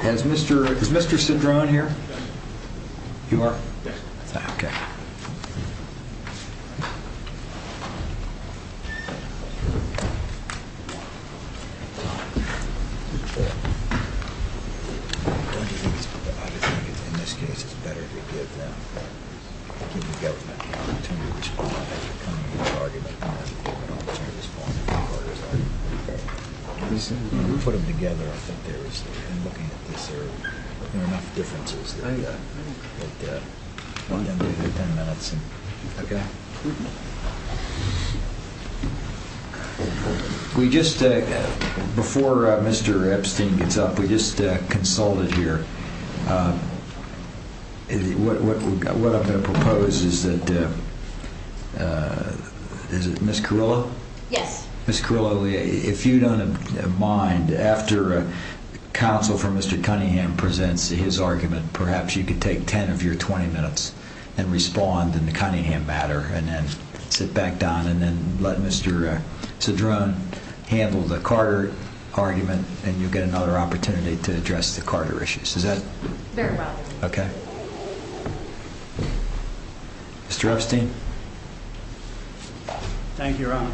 Has Mr. Cedrone here? You are? Yes. Okay. I just think in this case it's better to give the government an opportunity to respond and put orders on it. You put them together. I think there is, in looking at this there are enough differences that that, you know, they're 10 minutes. Okay. We just, before Mr. Epstein gets up, we just consulted here. What I'm going to propose is that, is it Ms. Carrillo? Yes. Ms. Carrillo, if you don't mind, after counsel for Mr. Cunningham presents his argument, perhaps you could take 10 of your 20 minutes and respond in the Cunningham matter, and then sit back down and then let Mr. Cedrone handle the Carter argument, and you'll get another opportunity to address the Carter issue. This is it. Very well. Okay. Mr. Epstein. Thank you, Your Honor.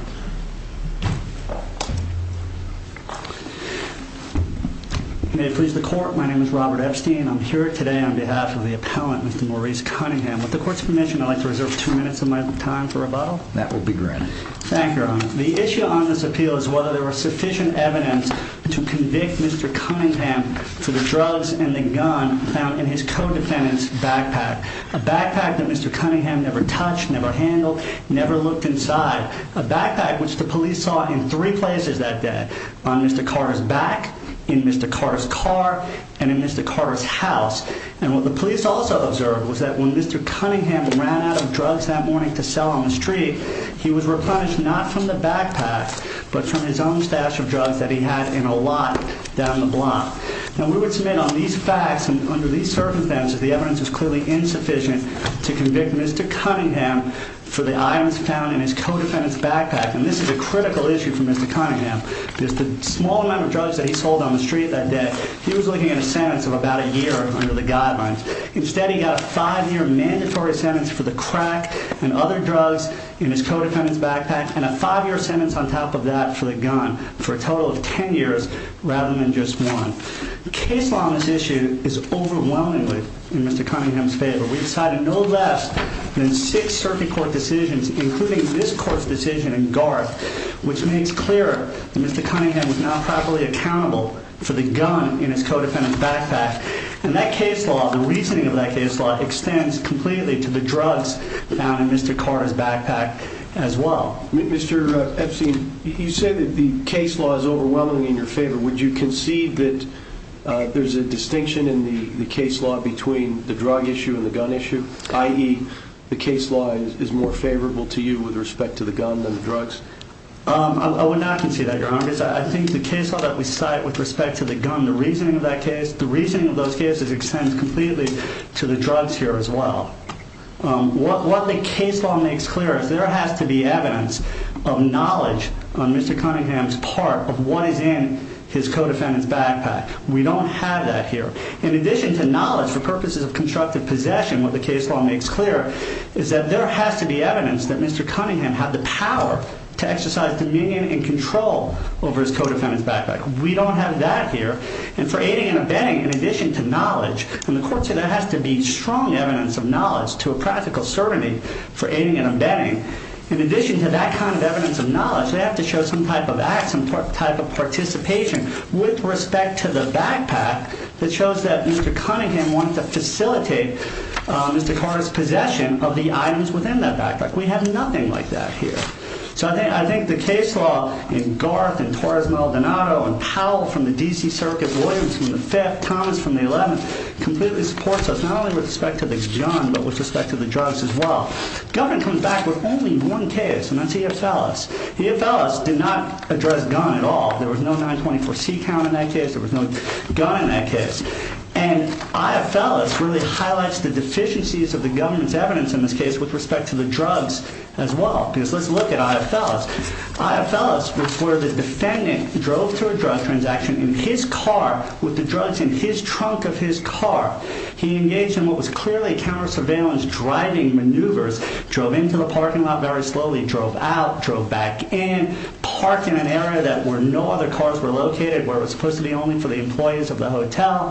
May it please the Court, my name is Robert Epstein. I'm here today on behalf of the appellant, Mr. Maurice Cunningham. With the Court's permission, I'd like to reserve two minutes of my time for rebuttal. That will be granted. Thank you, Your Honor. The issue on this appeal is whether there was sufficient evidence to convict Mr. Cunningham for the drugs and the gun found in his co-defendant's backpack. A backpack that Mr. Cunningham never touched, never handled, never looked inside. A backpack which the police saw in three places that day. On Mr. Carter's back, in Mr. Carter's car, and in Mr. Carter's house. And what the police also observed was that when Mr. Cunningham ran out of drugs that morning to sell on the street, he was replenished not from the backpack, but from his own stash of drugs that he had in a lot down the block. Now we would submit on these facts, and under these circumstances, the evidence is clearly insufficient to convict Mr. Cunningham for the items found in his co-defendant's backpack. And this is a critical issue for Mr. Cunningham. Because the small amount of drugs that he sold on the street that day, he was looking at a sentence of about a year under the guidelines. Instead, he got a five-year mandatory sentence for the crack and other drugs in his co-defendant's backpack, and a five-year sentence on top of that for the gun. For a total of ten years, rather than just one. The case law on this issue is overwhelmingly in Mr. Cunningham's favor. We decided no less than six circuit court decisions, including this court's decision in Garth, which makes clear that Mr. Cunningham was not properly accountable for the gun in his co-defendant's backpack. And that case law, the reasoning of that case law, extends completely to the drugs found in Mr. Carter's backpack as well. Mr. Epstein, you say that the case law is overwhelmingly in your favor. Would you concede that there's a distinction in the case law between the drug issue and the gun issue? I.e., the case law is more favorable to you with respect to the gun than the drugs? I would not concede that, Your Honor. I think the case law that we cite with respect to the gun, the reasoning of that case, extends completely to the drugs here as well. What the case law makes clear is there has to be evidence of knowledge on Mr. Cunningham's part of what is in his co-defendant's backpack. We don't have that here. In addition to knowledge for purposes of constructive possession, what the case law makes clear is that there has to be evidence that Mr. Cunningham had the power to exercise dominion and control over his co-defendant's backpack. We don't have that here. And for aiding and abetting, in addition to knowledge, from the court's view, there has to be strong evidence of knowledge to a practical certainty for aiding and abetting. In addition to that kind of evidence of knowledge, they have to show some type of act, some type of participation with respect to the backpack that shows that Mr. Cunningham wanted to facilitate Mr. Carter's possession of the items within that backpack. We have nothing like that here. So I think the case law in Garth and Torres Maldonado and Powell from the D.C. Circuit, Williams from the 5th, Thomas from the 11th, completely supports us not only with respect to the gun but with respect to the drugs as well. Government comes back with only one case, and that's EFLS. EFLS did not address gun at all. There was no 924C count in that case. There was no gun in that case. And EFLS really highlights the deficiencies of the government's evidence in this case with respect to the drugs as well. Because let's look at EFLS. EFLS is where the defendant drove to a drug transaction in his car with the drugs in his trunk of his car. He engaged in what was clearly counter-surveillance driving maneuvers, drove into the parking lot very slowly, drove out, drove back in, parked in an area where no other cars were located, where it was supposed to be only for the employees of the hotel.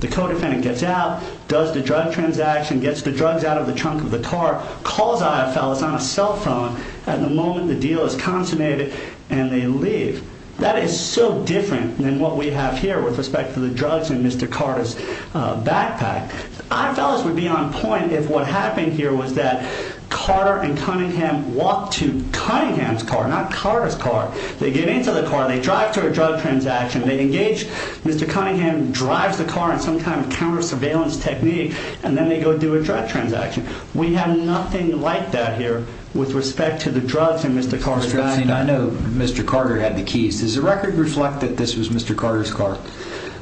The co-defendant gets out, does the drug transaction, gets the drugs out of the trunk of the car, calls EFLS on a cell phone. At the moment, the deal is consummated, and they leave. That is so different than what we have here with respect to the drugs in Mr. Carter's backpack. EFLS would be on point if what happened here was that Carter and Cunningham walked to Cunningham's car, not Carter's car. They get into the car, they drive to a drug transaction, they engage Mr. Cunningham, drives the car in some kind of counter-surveillance technique, and then they go do a drug transaction. We have nothing like that here with respect to the drugs in Mr. Carter's bag. I know Mr. Carter had the keys. Does the record reflect that this was Mr. Carter's car?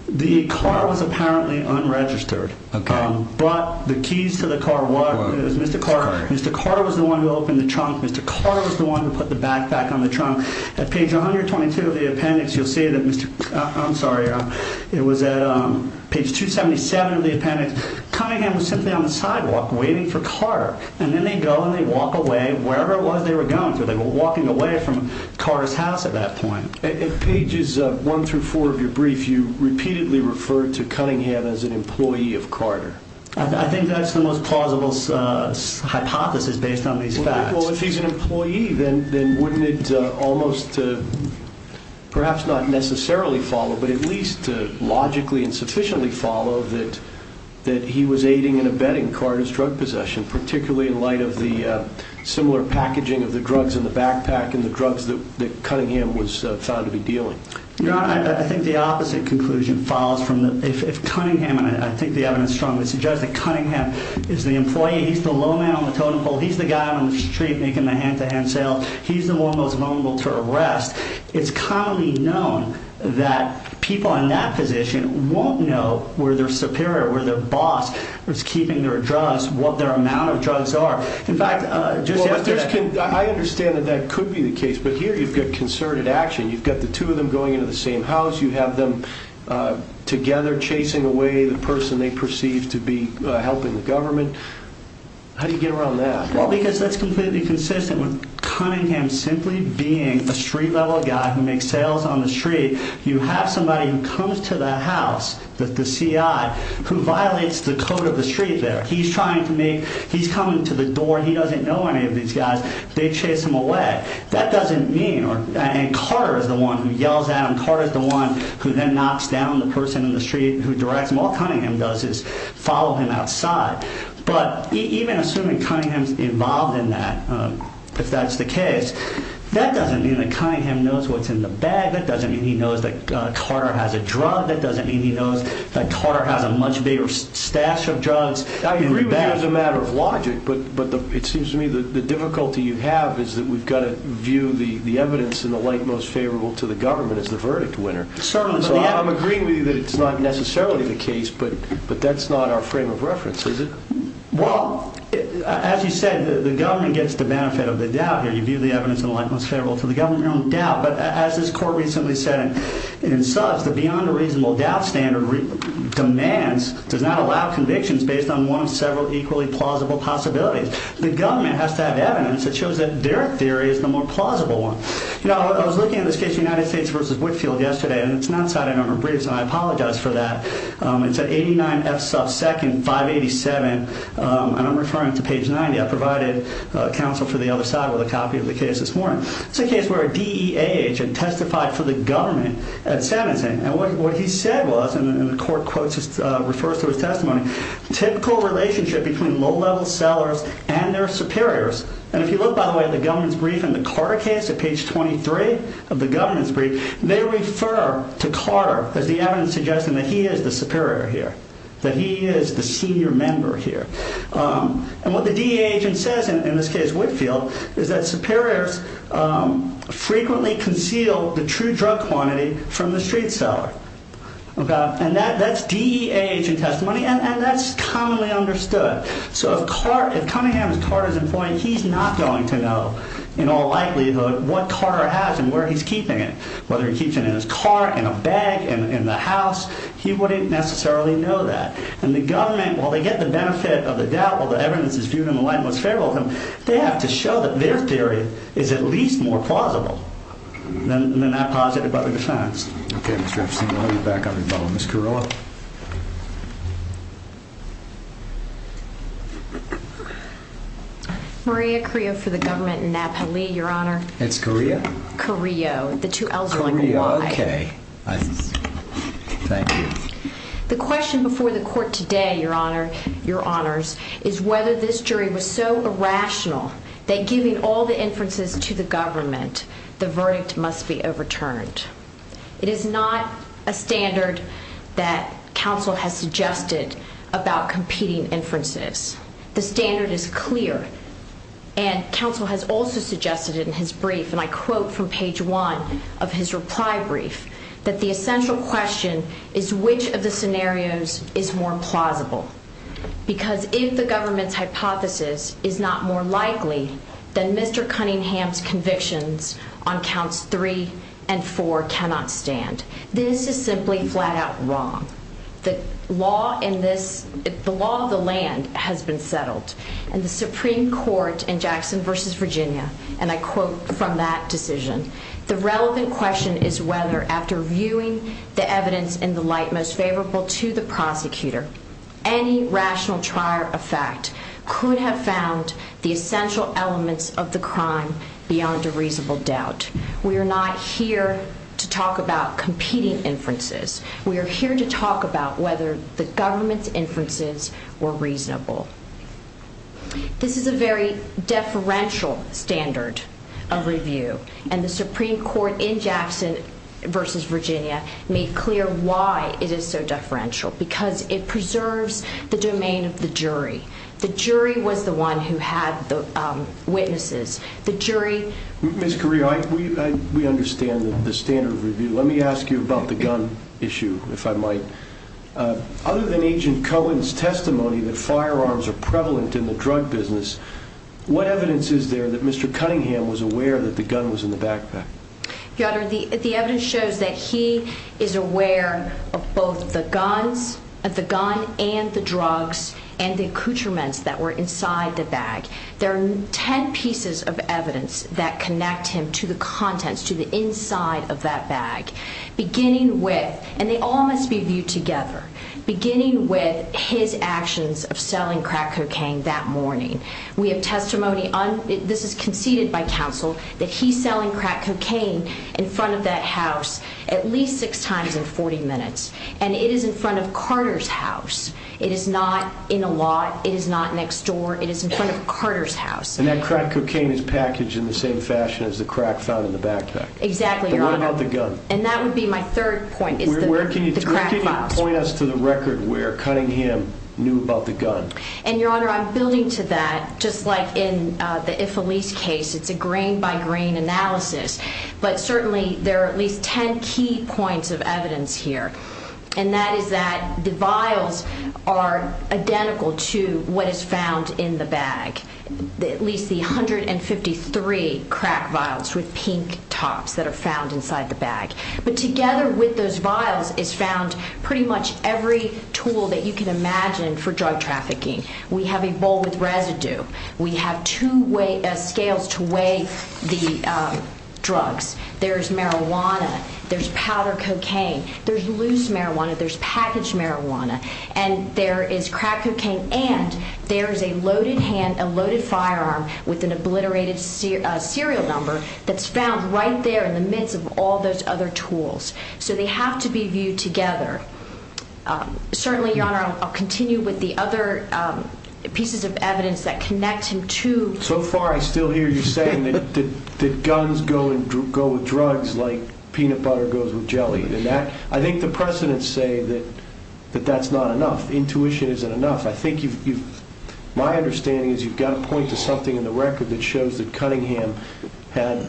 The car was apparently unregistered. But the keys to the car was Mr. Carter. Mr. Carter was the one who opened the trunk. Mr. Carter was the one who put the backpack on the trunk. At page 122 of the appendix, you'll see that Mr. – I'm sorry. It was at page 277 of the appendix. Cunningham was simply on the sidewalk waiting for Carter. And then they go and they walk away, wherever it was they were going to. They were walking away from Carter's house at that point. At pages 1 through 4 of your brief, you repeatedly referred to Cunningham as an employee of Carter. I think that's the most plausible hypothesis based on these facts. Well, if he's an employee, then wouldn't it almost perhaps not necessarily follow, but at least logically and sufficiently follow that he was aiding and abetting Carter's drug possession, particularly in light of the similar packaging of the drugs in the backpack and the drugs that Cunningham was found to be dealing? Your Honor, I think the opposite conclusion follows from the – if Cunningham – and I think the evidence strongly suggests that Cunningham is the employee. He's the low man on the totem pole. He's the guy on the street making the hand-to-hand sales. He's the one most vulnerable to arrest. It's commonly known that people in that position won't know where their superior, where their boss was keeping their drugs, what their amount of drugs are. In fact, just yesterday – I understand that that could be the case, but here you've got concerted action. You've got the two of them going into the same house. You have them together chasing away the person they perceive to be helping the government. How do you get around that? Well, because that's completely consistent with Cunningham simply being a street-level guy who makes sales on the street. You have somebody who comes to that house, the C.I., who violates the code of the street there. He's trying to make – he's coming to the door. He doesn't know any of these guys. They chase him away. That doesn't mean – and Carter is the one who yells at him. Carter is the one who then knocks down the person in the street who directs him. All Cunningham does is follow him outside. But even assuming Cunningham is involved in that, if that's the case, that doesn't mean that Cunningham knows what's in the bag. That doesn't mean he knows that Carter has a drug. That doesn't mean he knows that Carter has a much bigger stash of drugs in the bag. I agree with you as a matter of logic, but it seems to me the difficulty you have is that we've got to view the evidence in the light most favorable to the government as the verdict winner. Certainly. I'm agreeing with you that it's not necessarily the case, but that's not our frame of reference, is it? Well, as you said, the government gets the benefit of the doubt here. You view the evidence in the light most favorable to the government, your own doubt. But as this court recently said in Suffs, the beyond a reasonable doubt standard demands, does not allow convictions based on one of several equally plausible possibilities. The government has to have evidence that shows that their theory is the more plausible one. I was looking at this case of United States v. Whitefield yesterday, and it's not cited on our briefs, and I apologize for that. It's at 89 F. Suffs 2nd, 587, and I'm referring to page 90. I provided counsel for the other side with a copy of the case this morning. It's a case where a DEAH had testified for the government at 17, and what he said was, and the court quote just refers to his testimony, typical relationship between low-level sellers and their superiors. And if you look, by the way, at the government's brief in the Carter case at page 23 of the government's brief, they refer to Carter as the evidence suggesting that he is the superior here, that he is the senior member here. And what the DEAH says, in this case Whitefield, is that superiors frequently conceal the true drug quantity from the street seller. And that's DEAH testimony, and that's commonly understood. So if Cunningham is Carter's employee, he's not going to know, in all likelihood, what Carter has and where he's keeping it, whether he keeps it in his car, in a bag, in the house. He wouldn't necessarily know that. And the government, while they get the benefit of the doubt, while the evidence is viewed in the light most favorable of them, they have to show that their theory is at least more plausible than that posited by the defense. Okay, Mr. Epstein, we'll have you back on rebuttal. Ms. Carrillo. Maria Carrillo for the government in Napoli, Your Honor. It's Carrillo? Carrillo. The two L's are like a Y. Carrillo, okay. Thank you. The question before the court today, Your Honor, Your Honors, is whether this jury was so irrational that giving all the inferences to the government, It is not a standard that is used by the defense to determine whether or not that counsel has suggested about competing inferences. The standard is clear, and counsel has also suggested in his brief, and I quote from page one of his reply brief, that the essential question is which of the scenarios is more plausible. Because if the government's hypothesis is not more likely, then Mr. Cunningham's convictions on counts three and four cannot stand. This is simply flat-out wrong. The law of the land has been settled, and the Supreme Court in Jackson v. Virginia, and I quote from that decision, the relevant question is whether, after viewing the evidence in the light most favorable to the prosecutor, any rational trier of fact could have found the essential elements of the crime beyond a reasonable doubt. We are not here to talk about competing inferences. We are here to talk about whether the government's inferences were reasonable. This is a very deferential standard of review, and the Supreme Court in Jackson v. Virginia made clear why it is so deferential, because it preserves the domain of the jury. The jury was the one who had the witnesses. Ms. Carrillo, we understand the standard of review. Let me ask you about the gun issue, if I might. Other than Agent Cohen's testimony that firearms are prevalent in the drug business, what evidence is there that Mr. Cunningham was aware that the gun was in the backpack? Your Honor, the evidence shows that he is aware of both the gun and the drugs and the accoutrements that were inside the bag. There are 10 pieces of evidence that connect him to the contents, to the inside of that bag, beginning with, and they all must be viewed together, beginning with his actions of selling crack cocaine that morning. We have testimony, this is conceded by counsel, that he's selling crack cocaine in front of that house at least six times in 40 minutes, and it is in front of Carter's house. It is not in a lot. It is not next door. It is in front of Carter's house. And that crack cocaine is packaged in the same fashion as the crack found in the backpack. Exactly, Your Honor. And what about the gun? And that would be my third point, is the crack files. Where can you point us to the record where Cunningham knew about the gun? And, Your Honor, I'm building to that, just like in the Ifillice case, it's a grain-by-grain analysis, but certainly there are at least 10 key points of evidence here, and that is that the vials are identical to what is found in the bag, at least the 153 crack vials with pink tops that are found inside the bag. But together with those vials is found pretty much every tool that you can imagine for drug trafficking. We have a bowl with residue. We have two scales to weigh the drugs. There's marijuana. There's powder cocaine. There's loose marijuana. There's packaged marijuana. And there is crack cocaine, and there is a loaded hand, a loaded firearm, with an obliterated serial number that's found right there in the midst of all those other tools. So they have to be viewed together. Certainly, Your Honor, I'll continue with the other pieces of evidence that connect him to... So far I still hear you saying that guns go with drugs like peanut butter goes with jelly, and I think the precedents say that that's not enough. Intuition isn't enough. My understanding is you've got to point to something in the record that shows that Cunningham had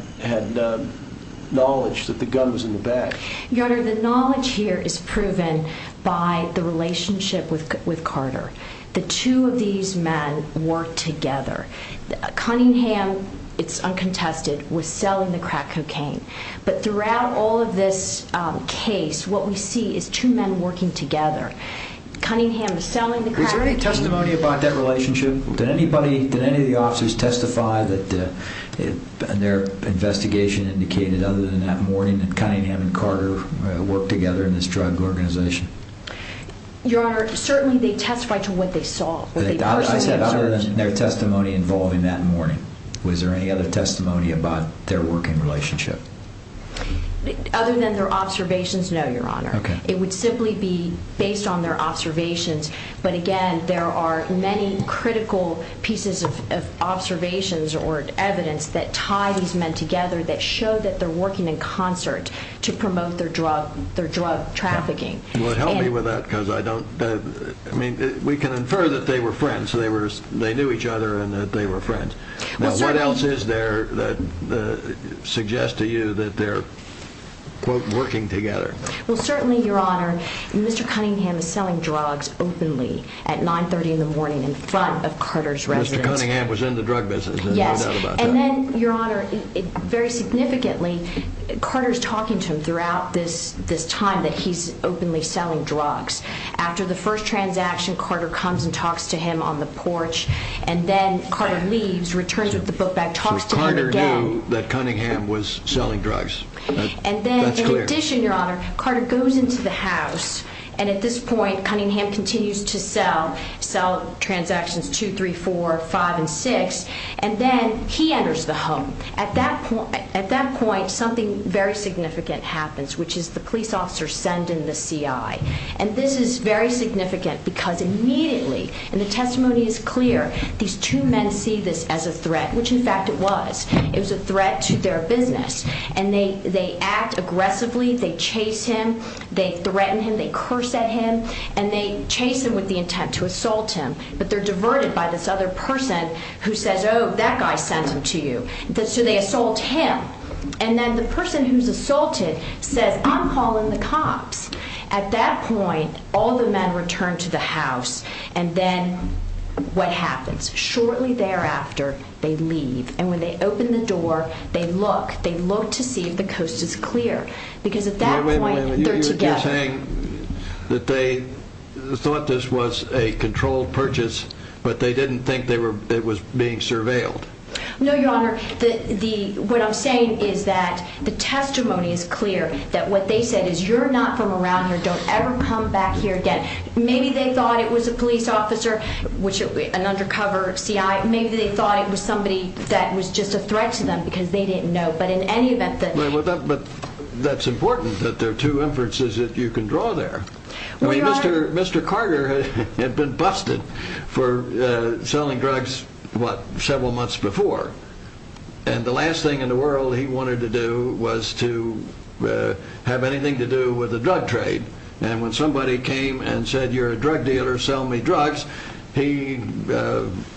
knowledge that the gun was in the bag. Your Honor, the knowledge here is proven by the relationship with Carter. The two of these men worked together. Cunningham, it's uncontested, was selling the crack cocaine. But throughout all of this case, what we see is two men working together. Cunningham was selling the crack cocaine. Is there any testimony about that relationship? Did any of the officers testify that their investigation indicated other than that morning that Cunningham and Carter worked together in this drug organization? Your Honor, certainly they testified to what they saw, what they personally observed. I said other than their testimony involving that morning. Was there any other testimony about their working relationship? Other than their observations, no, Your Honor. It would simply be based on their observations. But again, there are many critical pieces of observations or evidence that tie these men together that show that they're working in concert to promote their drug trafficking. Well, help me with that because I don't... Now, what else is there that suggests to you that they're, quote, working together? Well, certainly, Your Honor, Mr. Cunningham is selling drugs openly at 9.30 in the morning in front of Carter's residence. Mr. Cunningham was in the drug business. Yes, and then, Your Honor, very significantly, Carter's talking to him throughout this time that he's openly selling drugs. After the first transaction, Carter comes and talks to him on the porch. And then Carter leaves, returns with the book back, talks to him again. So Carter knew that Cunningham was selling drugs. That's clear. And then, in addition, Your Honor, Carter goes into the house. And at this point, Cunningham continues to sell transactions 2, 3, 4, 5, and 6. And then he enters the home. At that point, something very significant happens, which is the police officer sending the CI. And this is very significant because immediately, and the testimony is clear, these two men see this as a threat, which, in fact, it was. It was a threat to their business. And they act aggressively. They chase him. They threaten him. They curse at him. And they chase him with the intent to assault him. But they're diverted by this other person who says, oh, that guy sent him to you. So they assault him. And then the person who's assaulted says, I'm calling the cops. At that point, all the men return to the house. And then what happens? Shortly thereafter, they leave. And when they open the door, they look. They look to see if the coast is clear. Because at that point, they're together. Wait a minute. You're saying that they thought this was a controlled purchase, but they didn't think it was being surveilled. No, Your Honor. What I'm saying is that the testimony is clear, that what they said is you're not from around here. Don't ever come back here again. Maybe they thought it was a police officer, an undercover C.I. Maybe they thought it was somebody that was just a threat to them because they didn't know. But in any event, that's important that there are two inferences that you can draw there. Mr. Carter had been busted for selling drugs, what, several months before. And the last thing in the world he wanted to do was to have anything to do with the drug trade. And when somebody came and said, you're a drug dealer, sell me drugs, he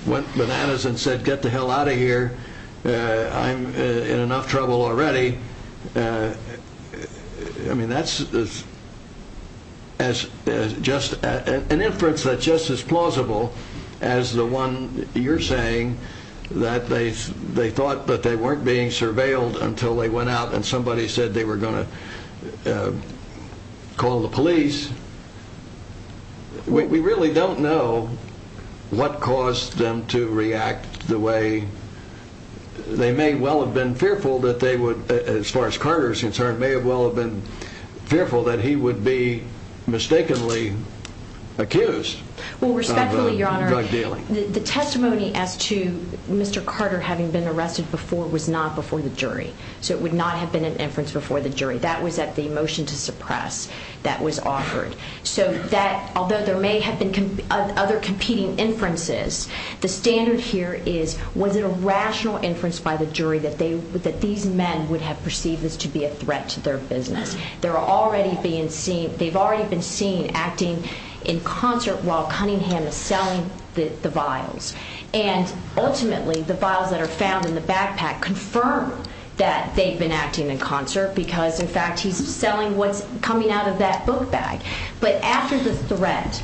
went bananas and said, get the hell out of here. I'm in enough trouble already. I mean, that's just an inference that's just as plausible as the one you're saying, that they thought that they weren't being surveilled until they went out and somebody said they were going to call the police. We really don't know what caused them to react the way they may well have been fearful that they would, as far as Carter's concerned, may well have been fearful that he would be mistakenly accused of drug dealing. Well, respectfully, Your Honor, the testimony as to Mr. Carter having been arrested before was not before the jury. So it would not have been an inference before the jury. That was at the motion to suppress that was offered. So although there may have been other competing inferences, the standard here is, was it a rational inference by the jury that these men would have perceived this to be a threat to their business? They've already been seen acting in concert while Cunningham is selling the vials. And ultimately, the vials that are found in the backpack confirm that they've been acting in concert because, in fact, he's selling what's coming out of that book bag. But after the threat,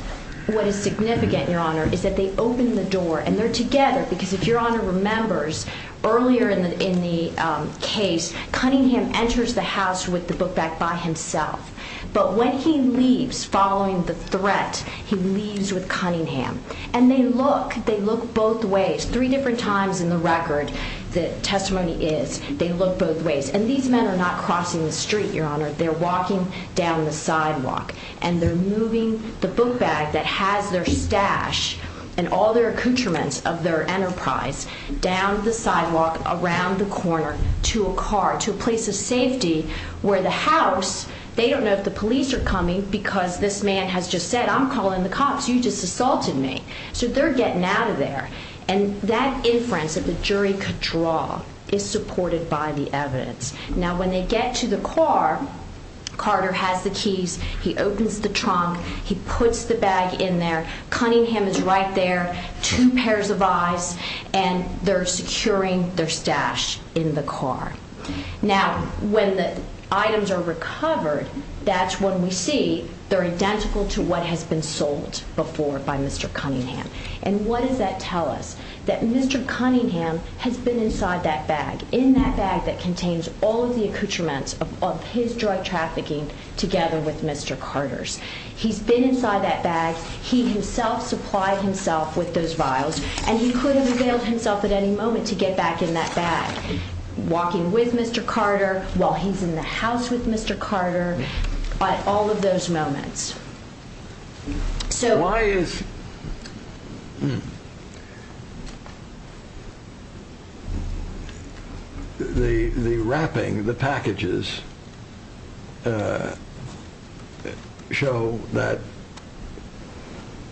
what is significant, Your Honor, is that they open the door and they're together because if Your Honor remembers earlier in the case, Cunningham enters the house with the book bag by himself. But when he leaves following the threat, he leaves with Cunningham. And they look, they look both ways. Three different times in the record, the testimony is they look both ways. And these men are not crossing the street, Your Honor. They're walking down the sidewalk and they're moving the book bag that has their stash and all their accoutrements of their enterprise down the sidewalk, around the corner, to a car, to a place of safety where the house, they don't know if the police are coming because this man has just said, I'm calling the cops. You just assaulted me. So they're getting out of there. And that inference that the jury could draw is supported by the evidence. Now, when they get to the car, Carter has the keys. He opens the trunk. He puts the bag in there. Cunningham is right there, two pairs of eyes, and they're securing their stash in the car. Now, when the items are recovered, that's when we see they're identical to what has been sold before by Mr. Cunningham. And what does that tell us? That Mr. Cunningham has been inside that bag, in that bag that contains all of the accoutrements of his drug trafficking together with Mr. Carter's. He's been inside that bag. He himself supplied himself with those vials, and he could have availed himself at any moment to get back in that bag, walking with Mr. Carter while he's in the house with Mr. Carter, at all of those moments. So why is the wrapping, the packages, show that,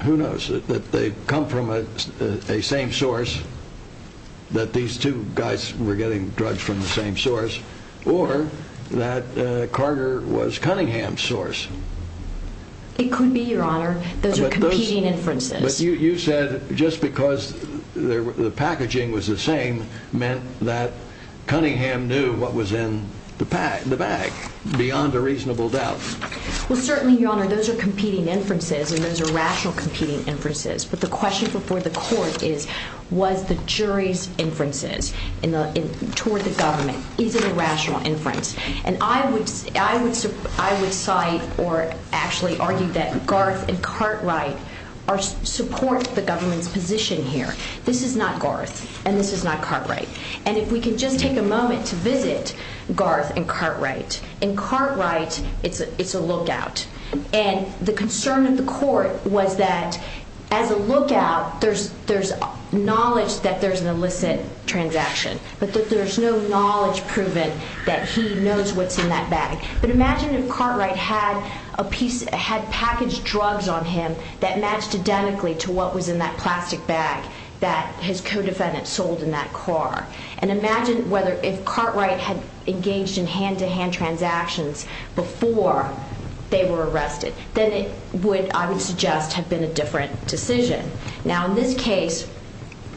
who knows, that they come from a same source, that these two guys were getting drugs from the same source, or that Carter was Cunningham's source? It could be, Your Honor. Those are competing inferences. But you said just because the packaging was the same meant that Cunningham knew what was in the bag, beyond a reasonable doubt. Well, certainly, Your Honor, those are competing inferences, and those are rational competing inferences. But the question before the court is, was the jury's inferences toward the government? Is it a rational inference? And I would cite or actually argue that Garth and Cartwright support the government's position here. This is not Garth, and this is not Cartwright. And if we could just take a moment to visit Garth and Cartwright. In Cartwright, it's a lookout. And the concern of the court was that, as a lookout, there's knowledge that there's an illicit transaction, but that there's no knowledge proven that he knows what's in that bag. But imagine if Cartwright had packaged drugs on him that matched identically to what was in that plastic bag that his co-defendant sold in that car. And imagine if Cartwright had engaged in hand-to-hand transactions before they were arrested. Then it would, I would suggest, have been a different decision. Now in this case,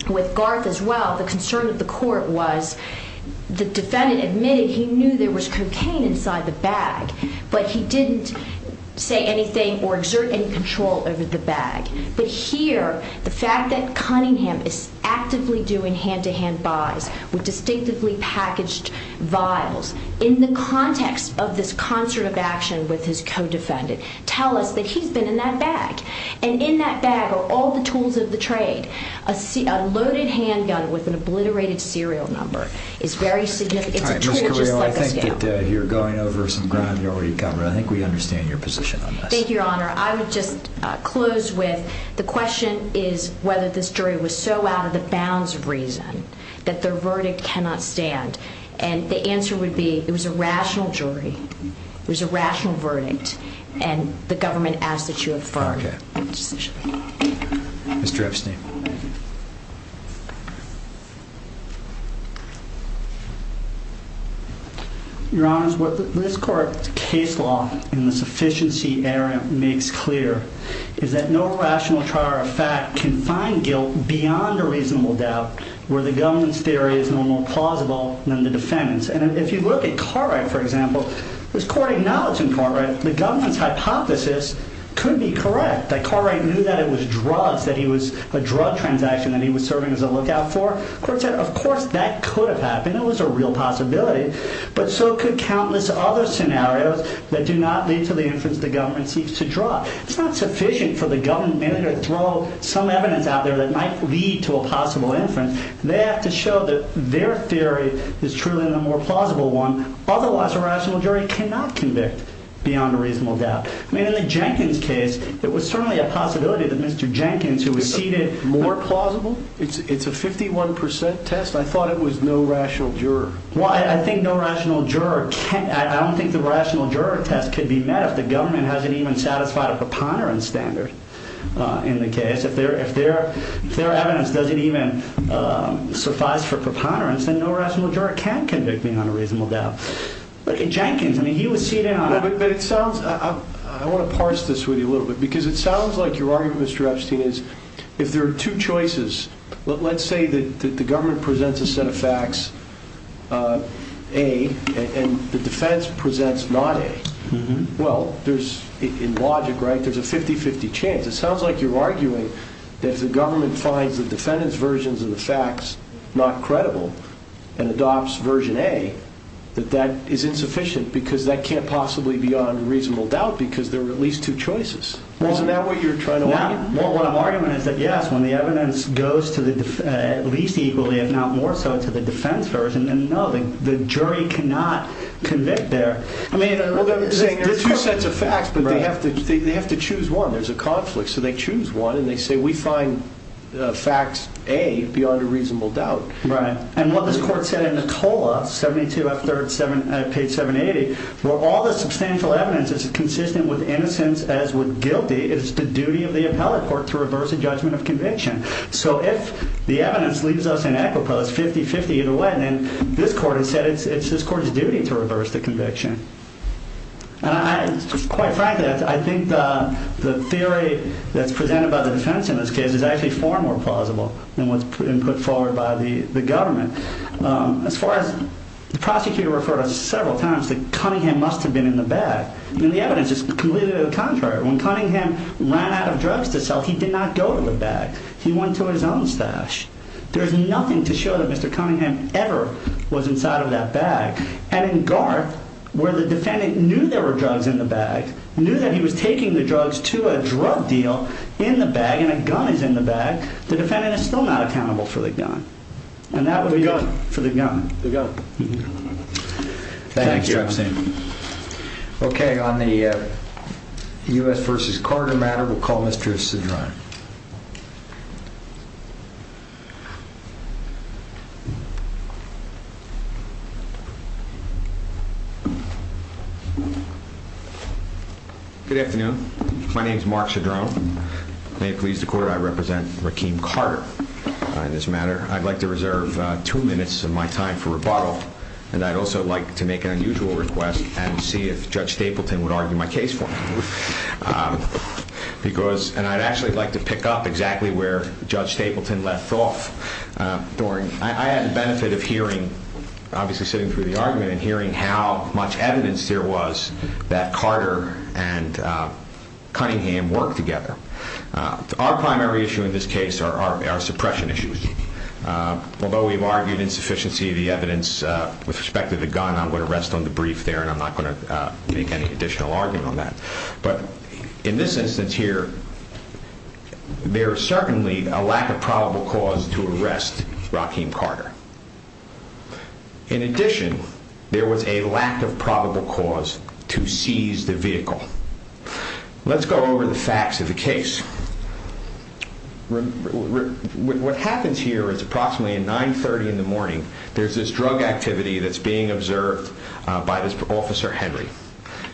with Garth as well, the concern of the court was the defendant admitted he knew there was cocaine inside the bag, but he didn't say anything or exert any control over the bag. But here, the fact that Cunningham is actively doing hand-to-hand buys with distinctively packaged vials, in the context of this concert of action with his co-defendant, tell us that he's been in that bag. And in that bag are all the tools of the trade. A loaded handgun with an obliterated serial number is very significant. It's a tool just like a scale. All right, Ms. Carrillo, I think that you're going over some ground you already covered. I think we understand your position on this. Thank you, Your Honor. I would just close with the question is whether this jury was so out of the bounds of reason that their verdict cannot stand. And the answer would be it was a rational jury. It was a rational verdict. And the government asks that you affirm the decision. Mr. Epstein. Your Honor, what this court's case law in the sufficiency area makes clear is that no rational trial or fact can find guilt beyond a reasonable doubt where the government's theory is no more plausible than the defendant's. And if you look at Cartwright, for example, this court acknowledged in Cartwright the government's hypothesis could be correct. That Cartwright knew that it was drugs, that he was a drug transaction that he was serving as a lookout for. The court said, of course, that could have happened. It was a real possibility. But so could countless other scenarios that do not lead to the inference the government seeks to draw. It's not sufficient for the government to throw some evidence out there that might lead to a possible inference. They have to show that their theory is truly a more plausible one. Otherwise, a rational jury cannot convict beyond a reasonable doubt. I mean, in the Jenkins case, it was certainly a possibility that Mr. Jenkins, who was seated more plausible. It's a 51 percent test. I thought it was no rational juror. Well, I think no rational juror can't. I don't think the rational juror test could be met if the government hasn't even satisfied a preponderance standard in the case. If their evidence doesn't even suffice for preponderance, then no rational juror can convict beyond a reasonable doubt. But in Jenkins, I mean, he was seated on a... But it sounds... I want to parse this with you a little bit. Because it sounds like your argument, Mr. Epstein, is if there are two choices... Let's say that the government presents a set of facts, A, and the defense presents not A. Well, there's, in logic, right, there's a 50-50 chance. It sounds like you're arguing that if the government finds the defendant's versions of the facts not credible and adopts version A, that that is insufficient because that can't possibly be beyond a reasonable doubt because there are at least two choices. Isn't that what you're trying to argue? Well, what I'm arguing is that, yes, when the evidence goes at least equally, if not more so, to the defense version, then no, the jury cannot convict there. I mean, there are two sets of facts, but they have to choose one. There's a conflict, so they choose one, and they say we find facts A beyond a reasonable doubt. Right, and what this court said in the TOLA, 72 F. 3rd, page 780, where all the substantial evidence is consistent with innocence as with guilty, it's the duty of the appellate court to reverse a judgment of conviction. So if the evidence leaves us in equipoise, 50-50 either way, then this court has said it's this court's duty to reverse the conviction. And quite frankly, I think the theory that's presented by the defense in this case is actually far more plausible than what's been put forward by the government. As far as the prosecutor referred to several times that Cunningham must have been in the bag. I mean, the evidence is completely the contrary. When Cunningham ran out of drugs to sell, he did not go to the bag. He went to his own stash. There's nothing to show that Mr. Cunningham ever was inside of that bag. And in Garth, where the defendant knew there were drugs in the bag, knew that he was taking the drugs to a drug deal in the bag, and a gun is in the bag, the defendant is still not accountable for the gun. And that would be good for the gun to go. Thank you. Okay. On the U.S. v. Carter matter, we'll call Mr. Cedrone. Good afternoon. My name is Mark Cedrone. May it please the court, I represent Rakeem Carter on this matter. I'd like to reserve two minutes of my time for rebuttal, and I'd also like to make an unusual request and see if Judge Stapleton would argue my case for me. And I'd actually like to pick up exactly where Judge Stapleton left off. I had the benefit of hearing, obviously sitting through the argument, and hearing how much evidence there was that Carter and Cunningham worked together. Our primary issue in this case are suppression issues. Although we've argued insufficiency of the evidence with respect to the gun, I'm going to rest on the brief there, and I'm not going to make any additional argument on that. But in this instance here, there is certainly a lack of probable cause to arrest Rakeem Carter. In addition, there was a lack of probable cause to seize the vehicle. Let's go over the facts of the case. What happens here is approximately at 9.30 in the morning, there's this drug activity that's being observed by this Officer Henry.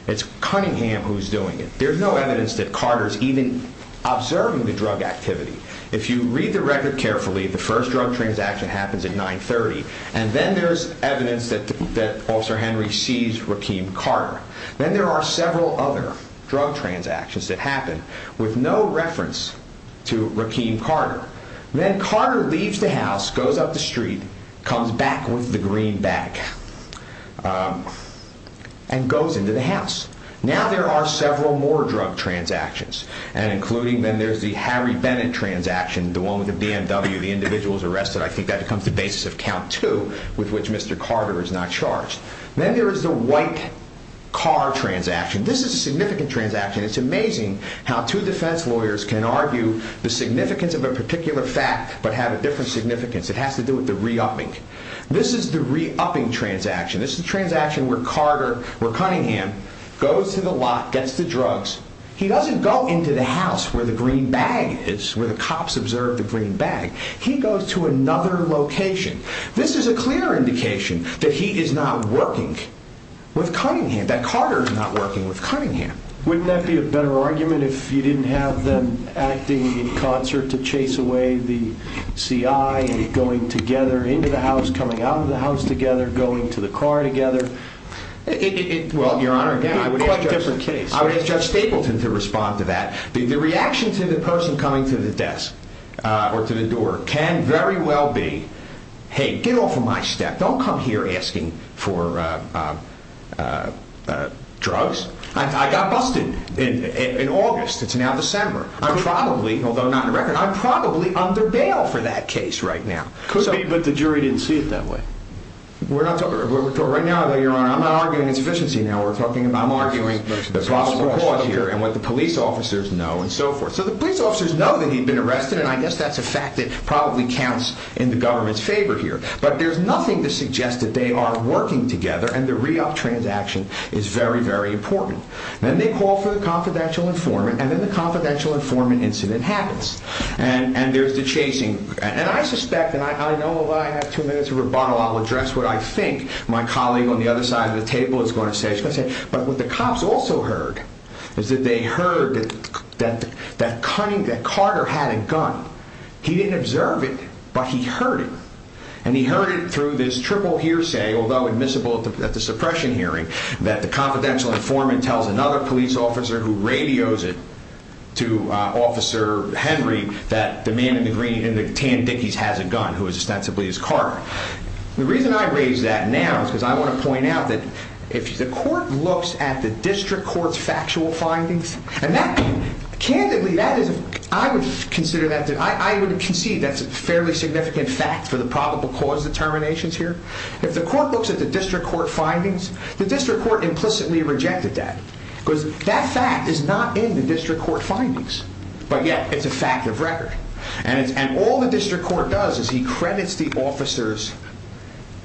It's Cunningham who's doing it. There's no evidence that Carter's even observing the drug activity. If you read the record carefully, the first drug transaction happens at 9.30, and then there's evidence that Officer Henry seized Rakeem Carter. Then there are several other drug transactions that happen with no reference to Rakeem Carter. Then Carter leaves the house, goes up the street, comes back with the green bag, and goes into the house. Now there are several more drug transactions, and including then there's the Harry Bennett transaction, the one with the BMW. The individual is arrested. I think that becomes the basis of count two with which Mr. Carter is not charged. Then there is the white car transaction. This is a significant transaction. It's amazing how two defense lawyers can argue the significance of a particular fact, but have a different significance. It has to do with the re-upping. This is the re-upping transaction. This is the transaction where Carter, or Cunningham, goes to the lot, gets the drugs. He doesn't go into the house where the green bag is, where the cops observed the green bag. He goes to another location. This is a clear indication that he is not working with Cunningham, that Carter is not working with Cunningham. Wouldn't that be a better argument if you didn't have them acting in concert to chase away the CI, going together into the house, coming out of the house together, going to the car together? Well, Your Honor, I would ask Judge Stapleton to respond to that. The reaction to the person coming to the desk or to the door can very well be, hey, get off of my step. Don't come here asking for drugs. I got busted in August. It's now December. I'm probably, although not in the record, I'm probably under bail for that case right now. Could be, but the jury didn't see it that way. Right now, Your Honor, I'm not arguing insufficiency. I'm arguing the possible cause here and what the police officers know and so forth. So the police officers know that he'd been arrested, and I guess that's a fact that probably counts in the government's favor here. But there's nothing to suggest that they are working together, and the REopt transaction is very, very important. Then they call for the confidential informant, and then the confidential informant incident happens. And there's the chasing. And I suspect, and I know if I have two minutes of rebuttal, I'll address what I think my colleague on the other side of the table is going to say. But what the cops also heard is that they heard that Carter had a gun. He didn't observe it, but he heard it. And he heard it through this triple hearsay, although admissible at the suppression hearing, that the confidential informant tells another police officer who radios it to Officer Henry that the man in the tan dickies has a gun who is ostensibly his car. The reason I raise that now is because I want to point out that if the court looks at the district court's factual findings, and that, candidly, I would concede that's a fairly significant fact for the probable cause determinations here. If the court looks at the district court findings, the district court implicitly rejected that because that fact is not in the district court findings. But yet, it's a fact of record. And all the district court does is he credits the officers'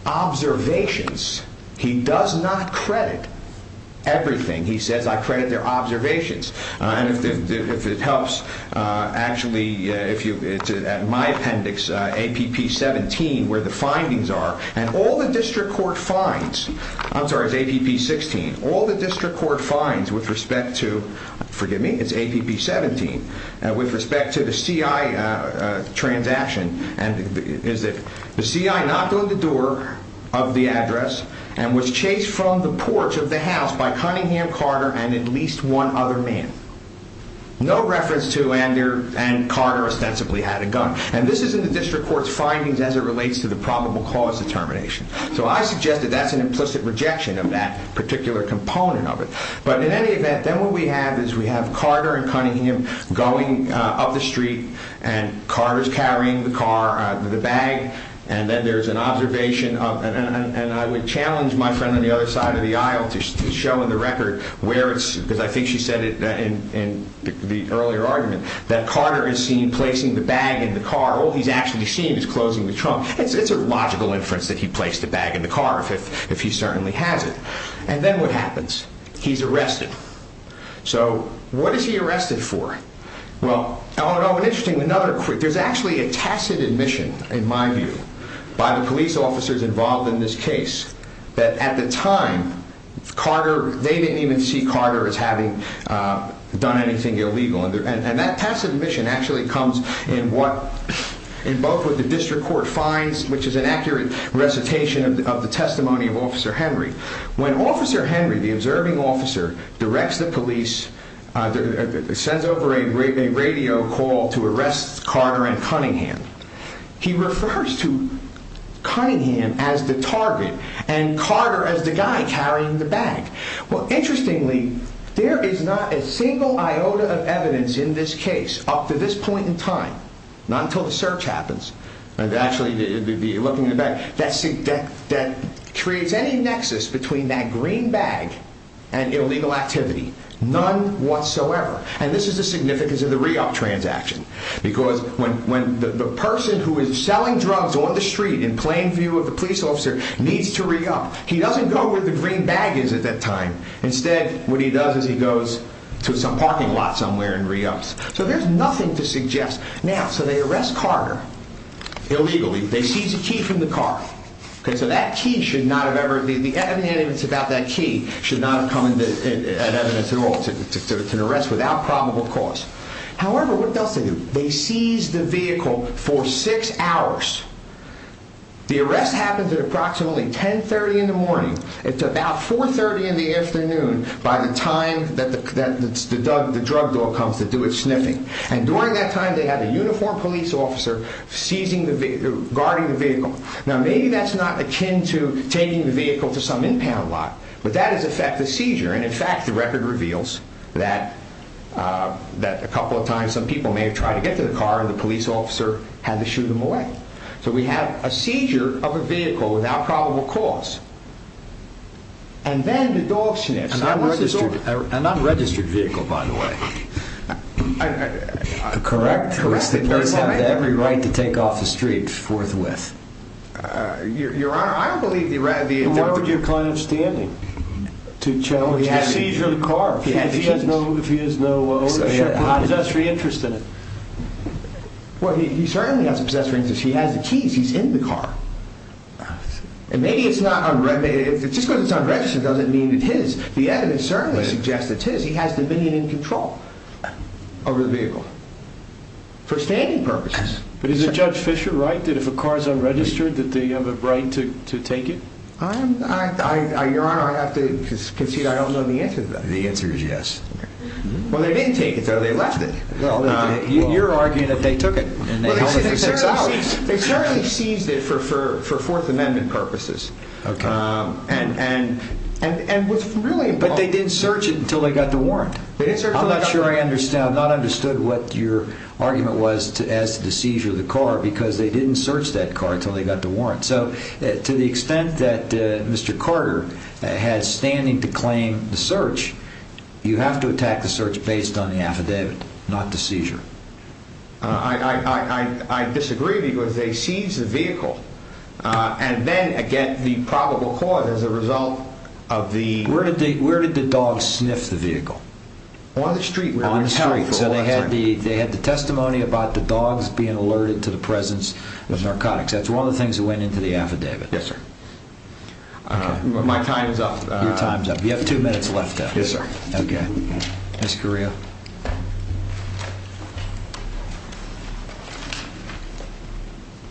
observations. He does not credit everything. He says, I credit their observations. And if it helps, actually, at my appendix, APP 17, where the findings are, and all the district court finds, I'm sorry, it's APP 16, all the district court finds with respect to, forgive me, it's APP 17, with respect to the C.I. transaction is that the C.I. knocked on the door of the address and was chased from the porch of the house by Cunningham, Carter, and at least one other man. No reference to Lander and Carter ostensibly had a gun. And this is in the district court's findings as it relates to the probable cause determination. So I suggest that that's an implicit rejection of that particular component of it. But in any event, then what we have is we have Carter and Cunningham going up the street, and Carter's carrying the car, the bag, and then there's an observation. And I would challenge my friend on the other side of the aisle to show in the record where it's, because I think she said it in the earlier argument, that Carter is seen placing the bag in the car. All he's actually seen is closing the trunk. It's a logical inference that he placed the bag in the car, if he certainly has it. And then what happens? He's arrested. So what is he arrested for? Well, oh, and interesting, there's actually a tacit admission, in my view, by the police officers involved in this case, that at the time, they didn't even see Carter as having done anything illegal. And that tacit admission actually comes in both what the district court finds, which is an accurate recitation of the testimony of Officer Henry. When Officer Henry, the observing officer, directs the police, sends over a radio call to arrest Carter and Cunningham, he refers to Cunningham as the target and Carter as the guy carrying the bag. Well, interestingly, there is not a single iota of evidence in this case up to this point in time. Not until the search happens. Actually, looking at the bag, that creates any nexus between that green bag and illegal activity. None whatsoever. And this is the significance of the REopt transaction. Because when the person who is selling drugs on the street, in plain view of the police officer, needs to REopt, he doesn't go where the green bag is at that time. Instead, what he does is he goes to some parking lot somewhere and REopts. So there's nothing to suggest. Now, so they arrest Carter illegally. They seize a key from the car. So that key should not have ever, the evidence about that key, should not have come as evidence at all. So it's an arrest without probable cause. However, what else do they do? They seize the vehicle for six hours. The arrest happens at approximately 10.30 in the morning. It's about 4.30 in the afternoon by the time that the drug dog comes to do its sniffing. And during that time, they have a uniformed police officer guarding the vehicle. Now, maybe that's not akin to taking the vehicle to some impound lot. But that is, in fact, a seizure. And, in fact, the record reveals that a couple of times, some people may have tried to get to the car and the police officer had to shoot them away. So we have a seizure of a vehicle without probable cause. And then the dog sniffs. An unregistered vehicle, by the way. Correct. Police have every right to take off the street forthwith. Your Honor, I don't believe the— Why would your client have standing to challenge the seizure of the car if he has no possessory interest in it? Well, he certainly has a possessory interest. He has the keys. He's in the car. And maybe it's not unregistered. Just because it's unregistered doesn't mean it's his. The evidence certainly suggests it's his. He has dominion and control over the vehicle for standing purposes. But isn't Judge Fischer right that if a car is unregistered that they have a right to take it? Your Honor, I have to concede I don't know the answer to that. The answer is yes. Well, they didn't take it, though. They left it. You're arguing that they took it and they held it for six hours. They certainly seized it for Fourth Amendment purposes. Okay. And what's really— But they didn't search it until they got the warrant. I'm not sure I understood what your argument was as to the seizure of the car because they didn't search that car until they got the warrant. So to the extent that Mr. Carter has standing to claim the search, you have to attack the search based on the affidavit, not the seizure. I disagree because they seized the vehicle. And then, again, the probable cause as a result of the— Where did the dogs sniff the vehicle? On the street. On the street. So they had the testimony about the dogs being alerted to the presence of narcotics. That's one of the things that went into the affidavit. Yes, sir. My time is up. Your time is up. You have two minutes left, though. Yes, sir. Okay. Ms. Carrillo?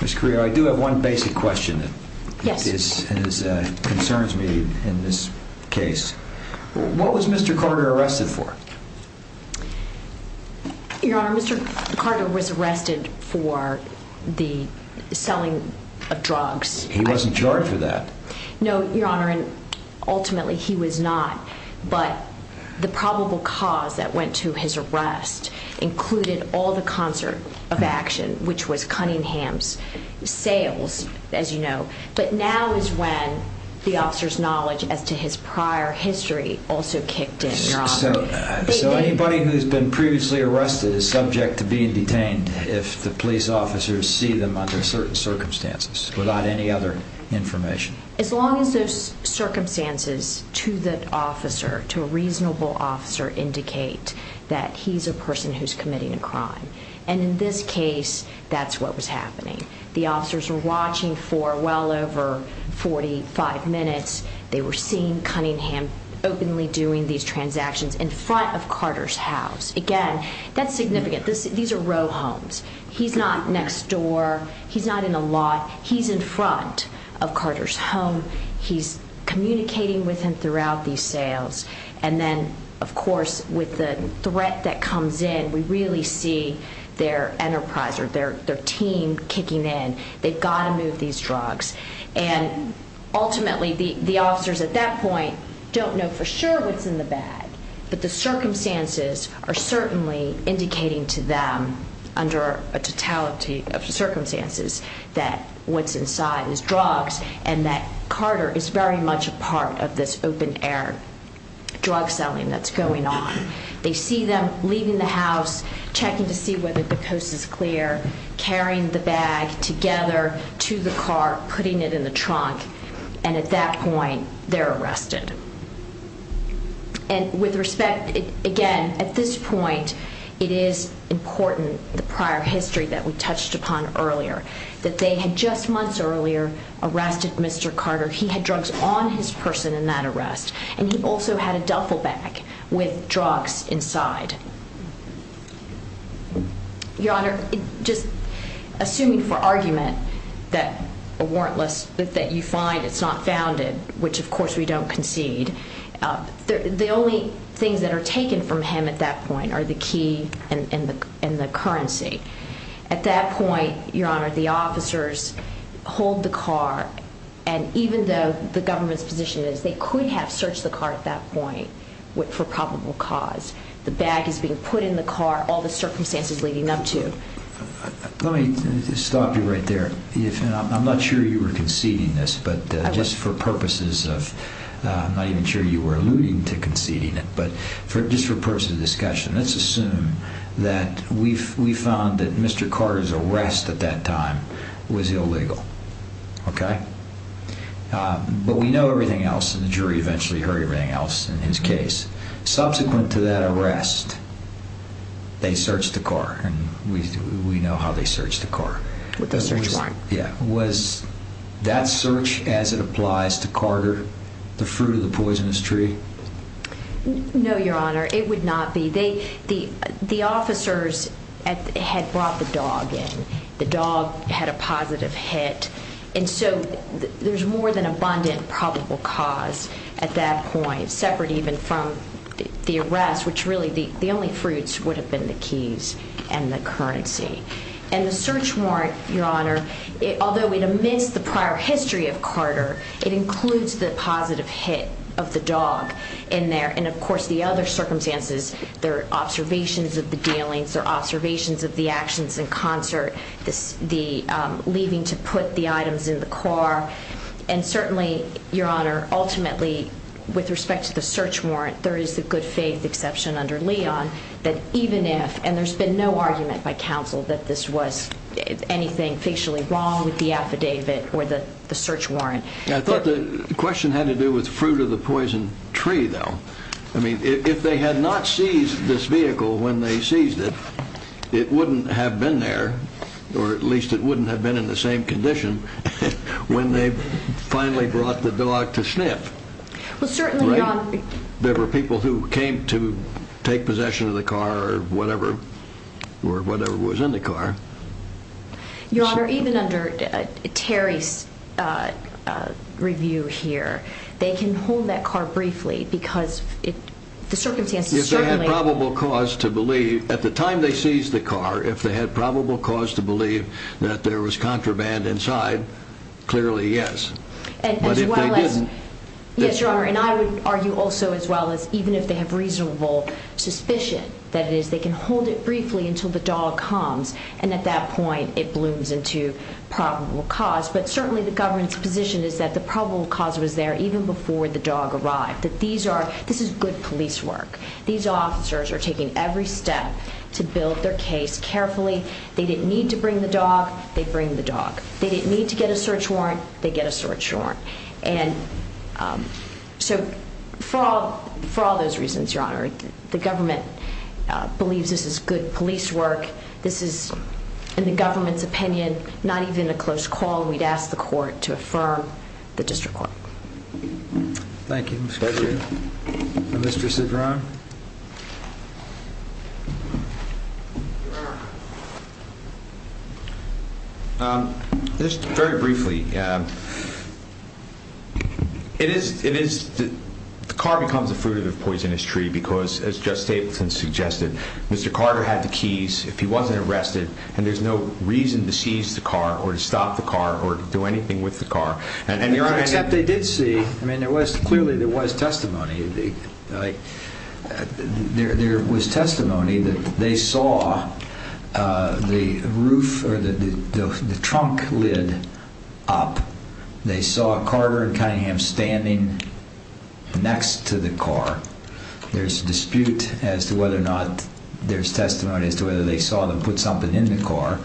Ms. Carrillo, I do have one basic question that concerns me in this case. What was Mr. Carter arrested for? Your Honor, Mr. Carter was arrested for the selling of drugs. He wasn't charged for that. No, Your Honor, and ultimately he was not. But the probable cause that went to his arrest included all the concert of action, which was Cunningham's sales, as you know. But now is when the officer's knowledge as to his prior history also kicked in, Your Honor. So anybody who's been previously arrested is subject to being detained if the police officers see them under certain circumstances without any other information? As long as those circumstances to the officer, to a reasonable officer, indicate that he's a person who's committing a crime. And in this case, that's what was happening. The officers were watching for well over 45 minutes. They were seeing Cunningham openly doing these transactions in front of Carter's house. Again, that's significant. These are row homes. He's not next door. He's not in a lot. He's in front of Carter's home. He's communicating with him throughout these sales. And then, of course, with the threat that comes in, we really see their enterprise or their team kicking in. They've got to move these drugs. And ultimately, the officers at that point don't know for sure what's in the bag, but the circumstances are certainly indicating to them under a totality of circumstances that what's inside is drugs and that Carter is very much a part of this open-air drug selling that's going on. They see them leaving the house, checking to see whether the coast is clear, carrying the bag together to the car, putting it in the trunk, and at that point they're arrested. And with respect, again, at this point it is important, the prior history that we touched upon earlier, that they had just months earlier arrested Mr. Carter. He had drugs on his person in that arrest, and he also had a duffel bag with drugs inside. Your Honor, just assuming for argument that a warrantless, that you find it's not founded, which of course we don't concede, the only things that are taken from him at that point are the key and the currency. At that point, Your Honor, the officers hold the car, and even though the government's position is they could have searched the car at that point for probable cause. The bag is being put in the car, all the circumstances leading up to. Let me stop you right there. I'm not sure you were conceding this, but just for purposes of, I'm not even sure you were alluding to conceding it, but just for purposes of discussion, let's assume that we found that Mr. Carter's arrest at that time was illegal, okay? But we know everything else, and the jury eventually heard everything else in his case. Subsequent to that arrest, they searched the car, and we know how they searched the car. With a search warrant. Yeah. Was that search, as it applies to Carter, the fruit of the poisonous tree? No, Your Honor, it would not be. The officers had brought the dog in. The dog had a positive hit, and so there's more than abundant probable cause at that point, separate even from the arrest, which really the only fruits would have been the keys and the currency. And the search warrant, Your Honor, although it omits the prior history of Carter, it includes the positive hit of the dog in there, and of course the other circumstances, there are observations of the dealings, there are observations of the actions in concert, the leaving to put the items in the car, and certainly, Your Honor, ultimately with respect to the search warrant, there is the good faith exception under Leon that even if, and there's been no argument by counsel that this was anything facially wrong with the affidavit or the search warrant. I thought the question had to do with fruit of the poison tree, though. I mean, if they had not seized this vehicle when they seized it, it wouldn't have been there, or at least it wouldn't have been in the same condition when they finally brought the dog to sniff. Well, certainly, Your Honor. There were people who came to take possession of the car or whatever, or whatever was in the car. Your Honor, even under Terry's review here, they can hold that car briefly because the circumstances certainly. If they had probable cause to believe, at the time they seized the car, if they had probable cause to believe that there was contraband inside, clearly yes. But if they didn't. Yes, Your Honor, and I would argue also as well as even if they have reasonable suspicion, that is they can hold it briefly until the dog comes, and at that point it blooms into probable cause. But certainly the government's position is that the probable cause was there even before the dog arrived, that these are, this is good police work. These officers are taking every step to build their case carefully. They didn't need to bring the dog. They bring the dog. They didn't need to get a search warrant. They get a search warrant. And so for all those reasons, Your Honor, the government believes this is good police work. This is, in the government's opinion, not even a close call. We'd ask the court to affirm the district court. Thank you, Ms. Gregory. Thank you, Mr. Cedron. Just very briefly, it is, the car becomes the fruit of the poisonous tree because, as Judge Stapleton suggested, Mr. Carter had the keys. If he wasn't arrested and there's no reason to seize the car or to stop the car or do anything with the car. Except they did see, I mean, there was, clearly there was testimony. There was testimony that they saw the roof or the trunk lid up. They saw Carter and Cunningham standing next to the car. There's dispute as to whether or not, there's testimony as to whether they saw them put something in the car.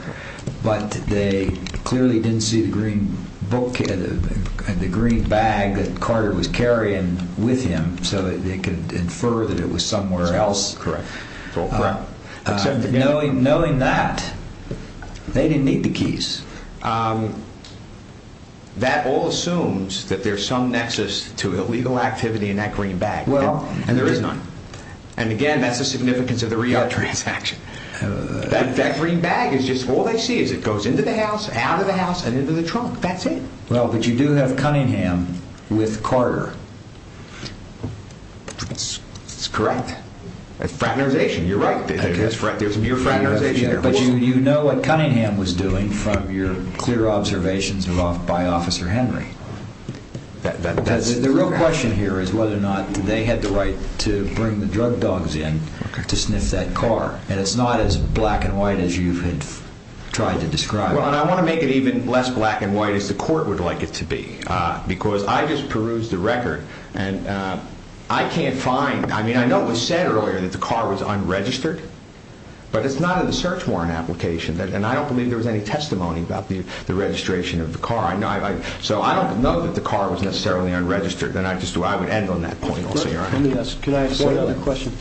But they clearly didn't see the green book, the green bag that Carter was carrying with him. So they could infer that it was somewhere else. Correct. Knowing that, they didn't need the keys. That all assumes that there's some nexus to illegal activity in that green bag. And there is none. And again, that's the significance of the re-op transaction. That green bag is just, all they see is it goes into the house, out of the house, and into the trunk. That's it. Well, but you do have Cunningham with Carter. That's correct. Fraternization, you're right. There's mere fraternization. But you know what Cunningham was doing from your clear observations by Officer Henry. The real question here is whether or not they had the right to bring the drug dogs in to sniff that car. And it's not as black and white as you had tried to describe. Well, and I want to make it even less black and white as the court would like it to be. Because I just perused the record and I can't find, I mean, I know it was said earlier that the car was unregistered. But it's not in the search warrant application. And I don't believe there was any testimony about the registration of the car. So I don't know that the car was necessarily unregistered. And I would end on that point also, Your Honor. Let me ask one other question.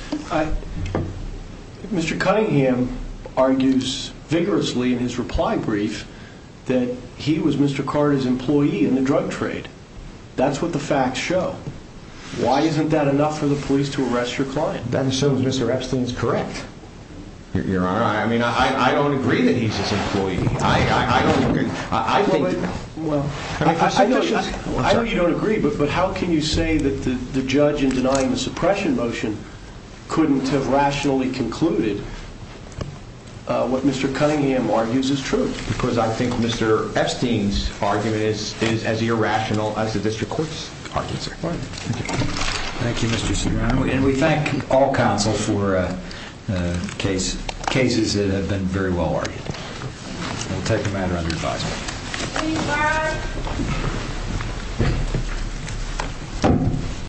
Mr. Cunningham argues vigorously in his reply brief that he was Mr. Carter's employee in the drug trade. That's what the facts show. Why isn't that enough for the police to arrest your client? That assumes Mr. Epstein is correct. I don't agree. I know you don't agree, but how can you say that the judge in denying the suppression motion couldn't have rationally concluded what Mr. Cunningham argues is true? Because I think Mr. Epstein's argument is as irrational as the district court's argument, sir. Thank you, Mr. Cunningham. And we thank all counsel for cases that have been very well argued. We'll take the matter under advisement.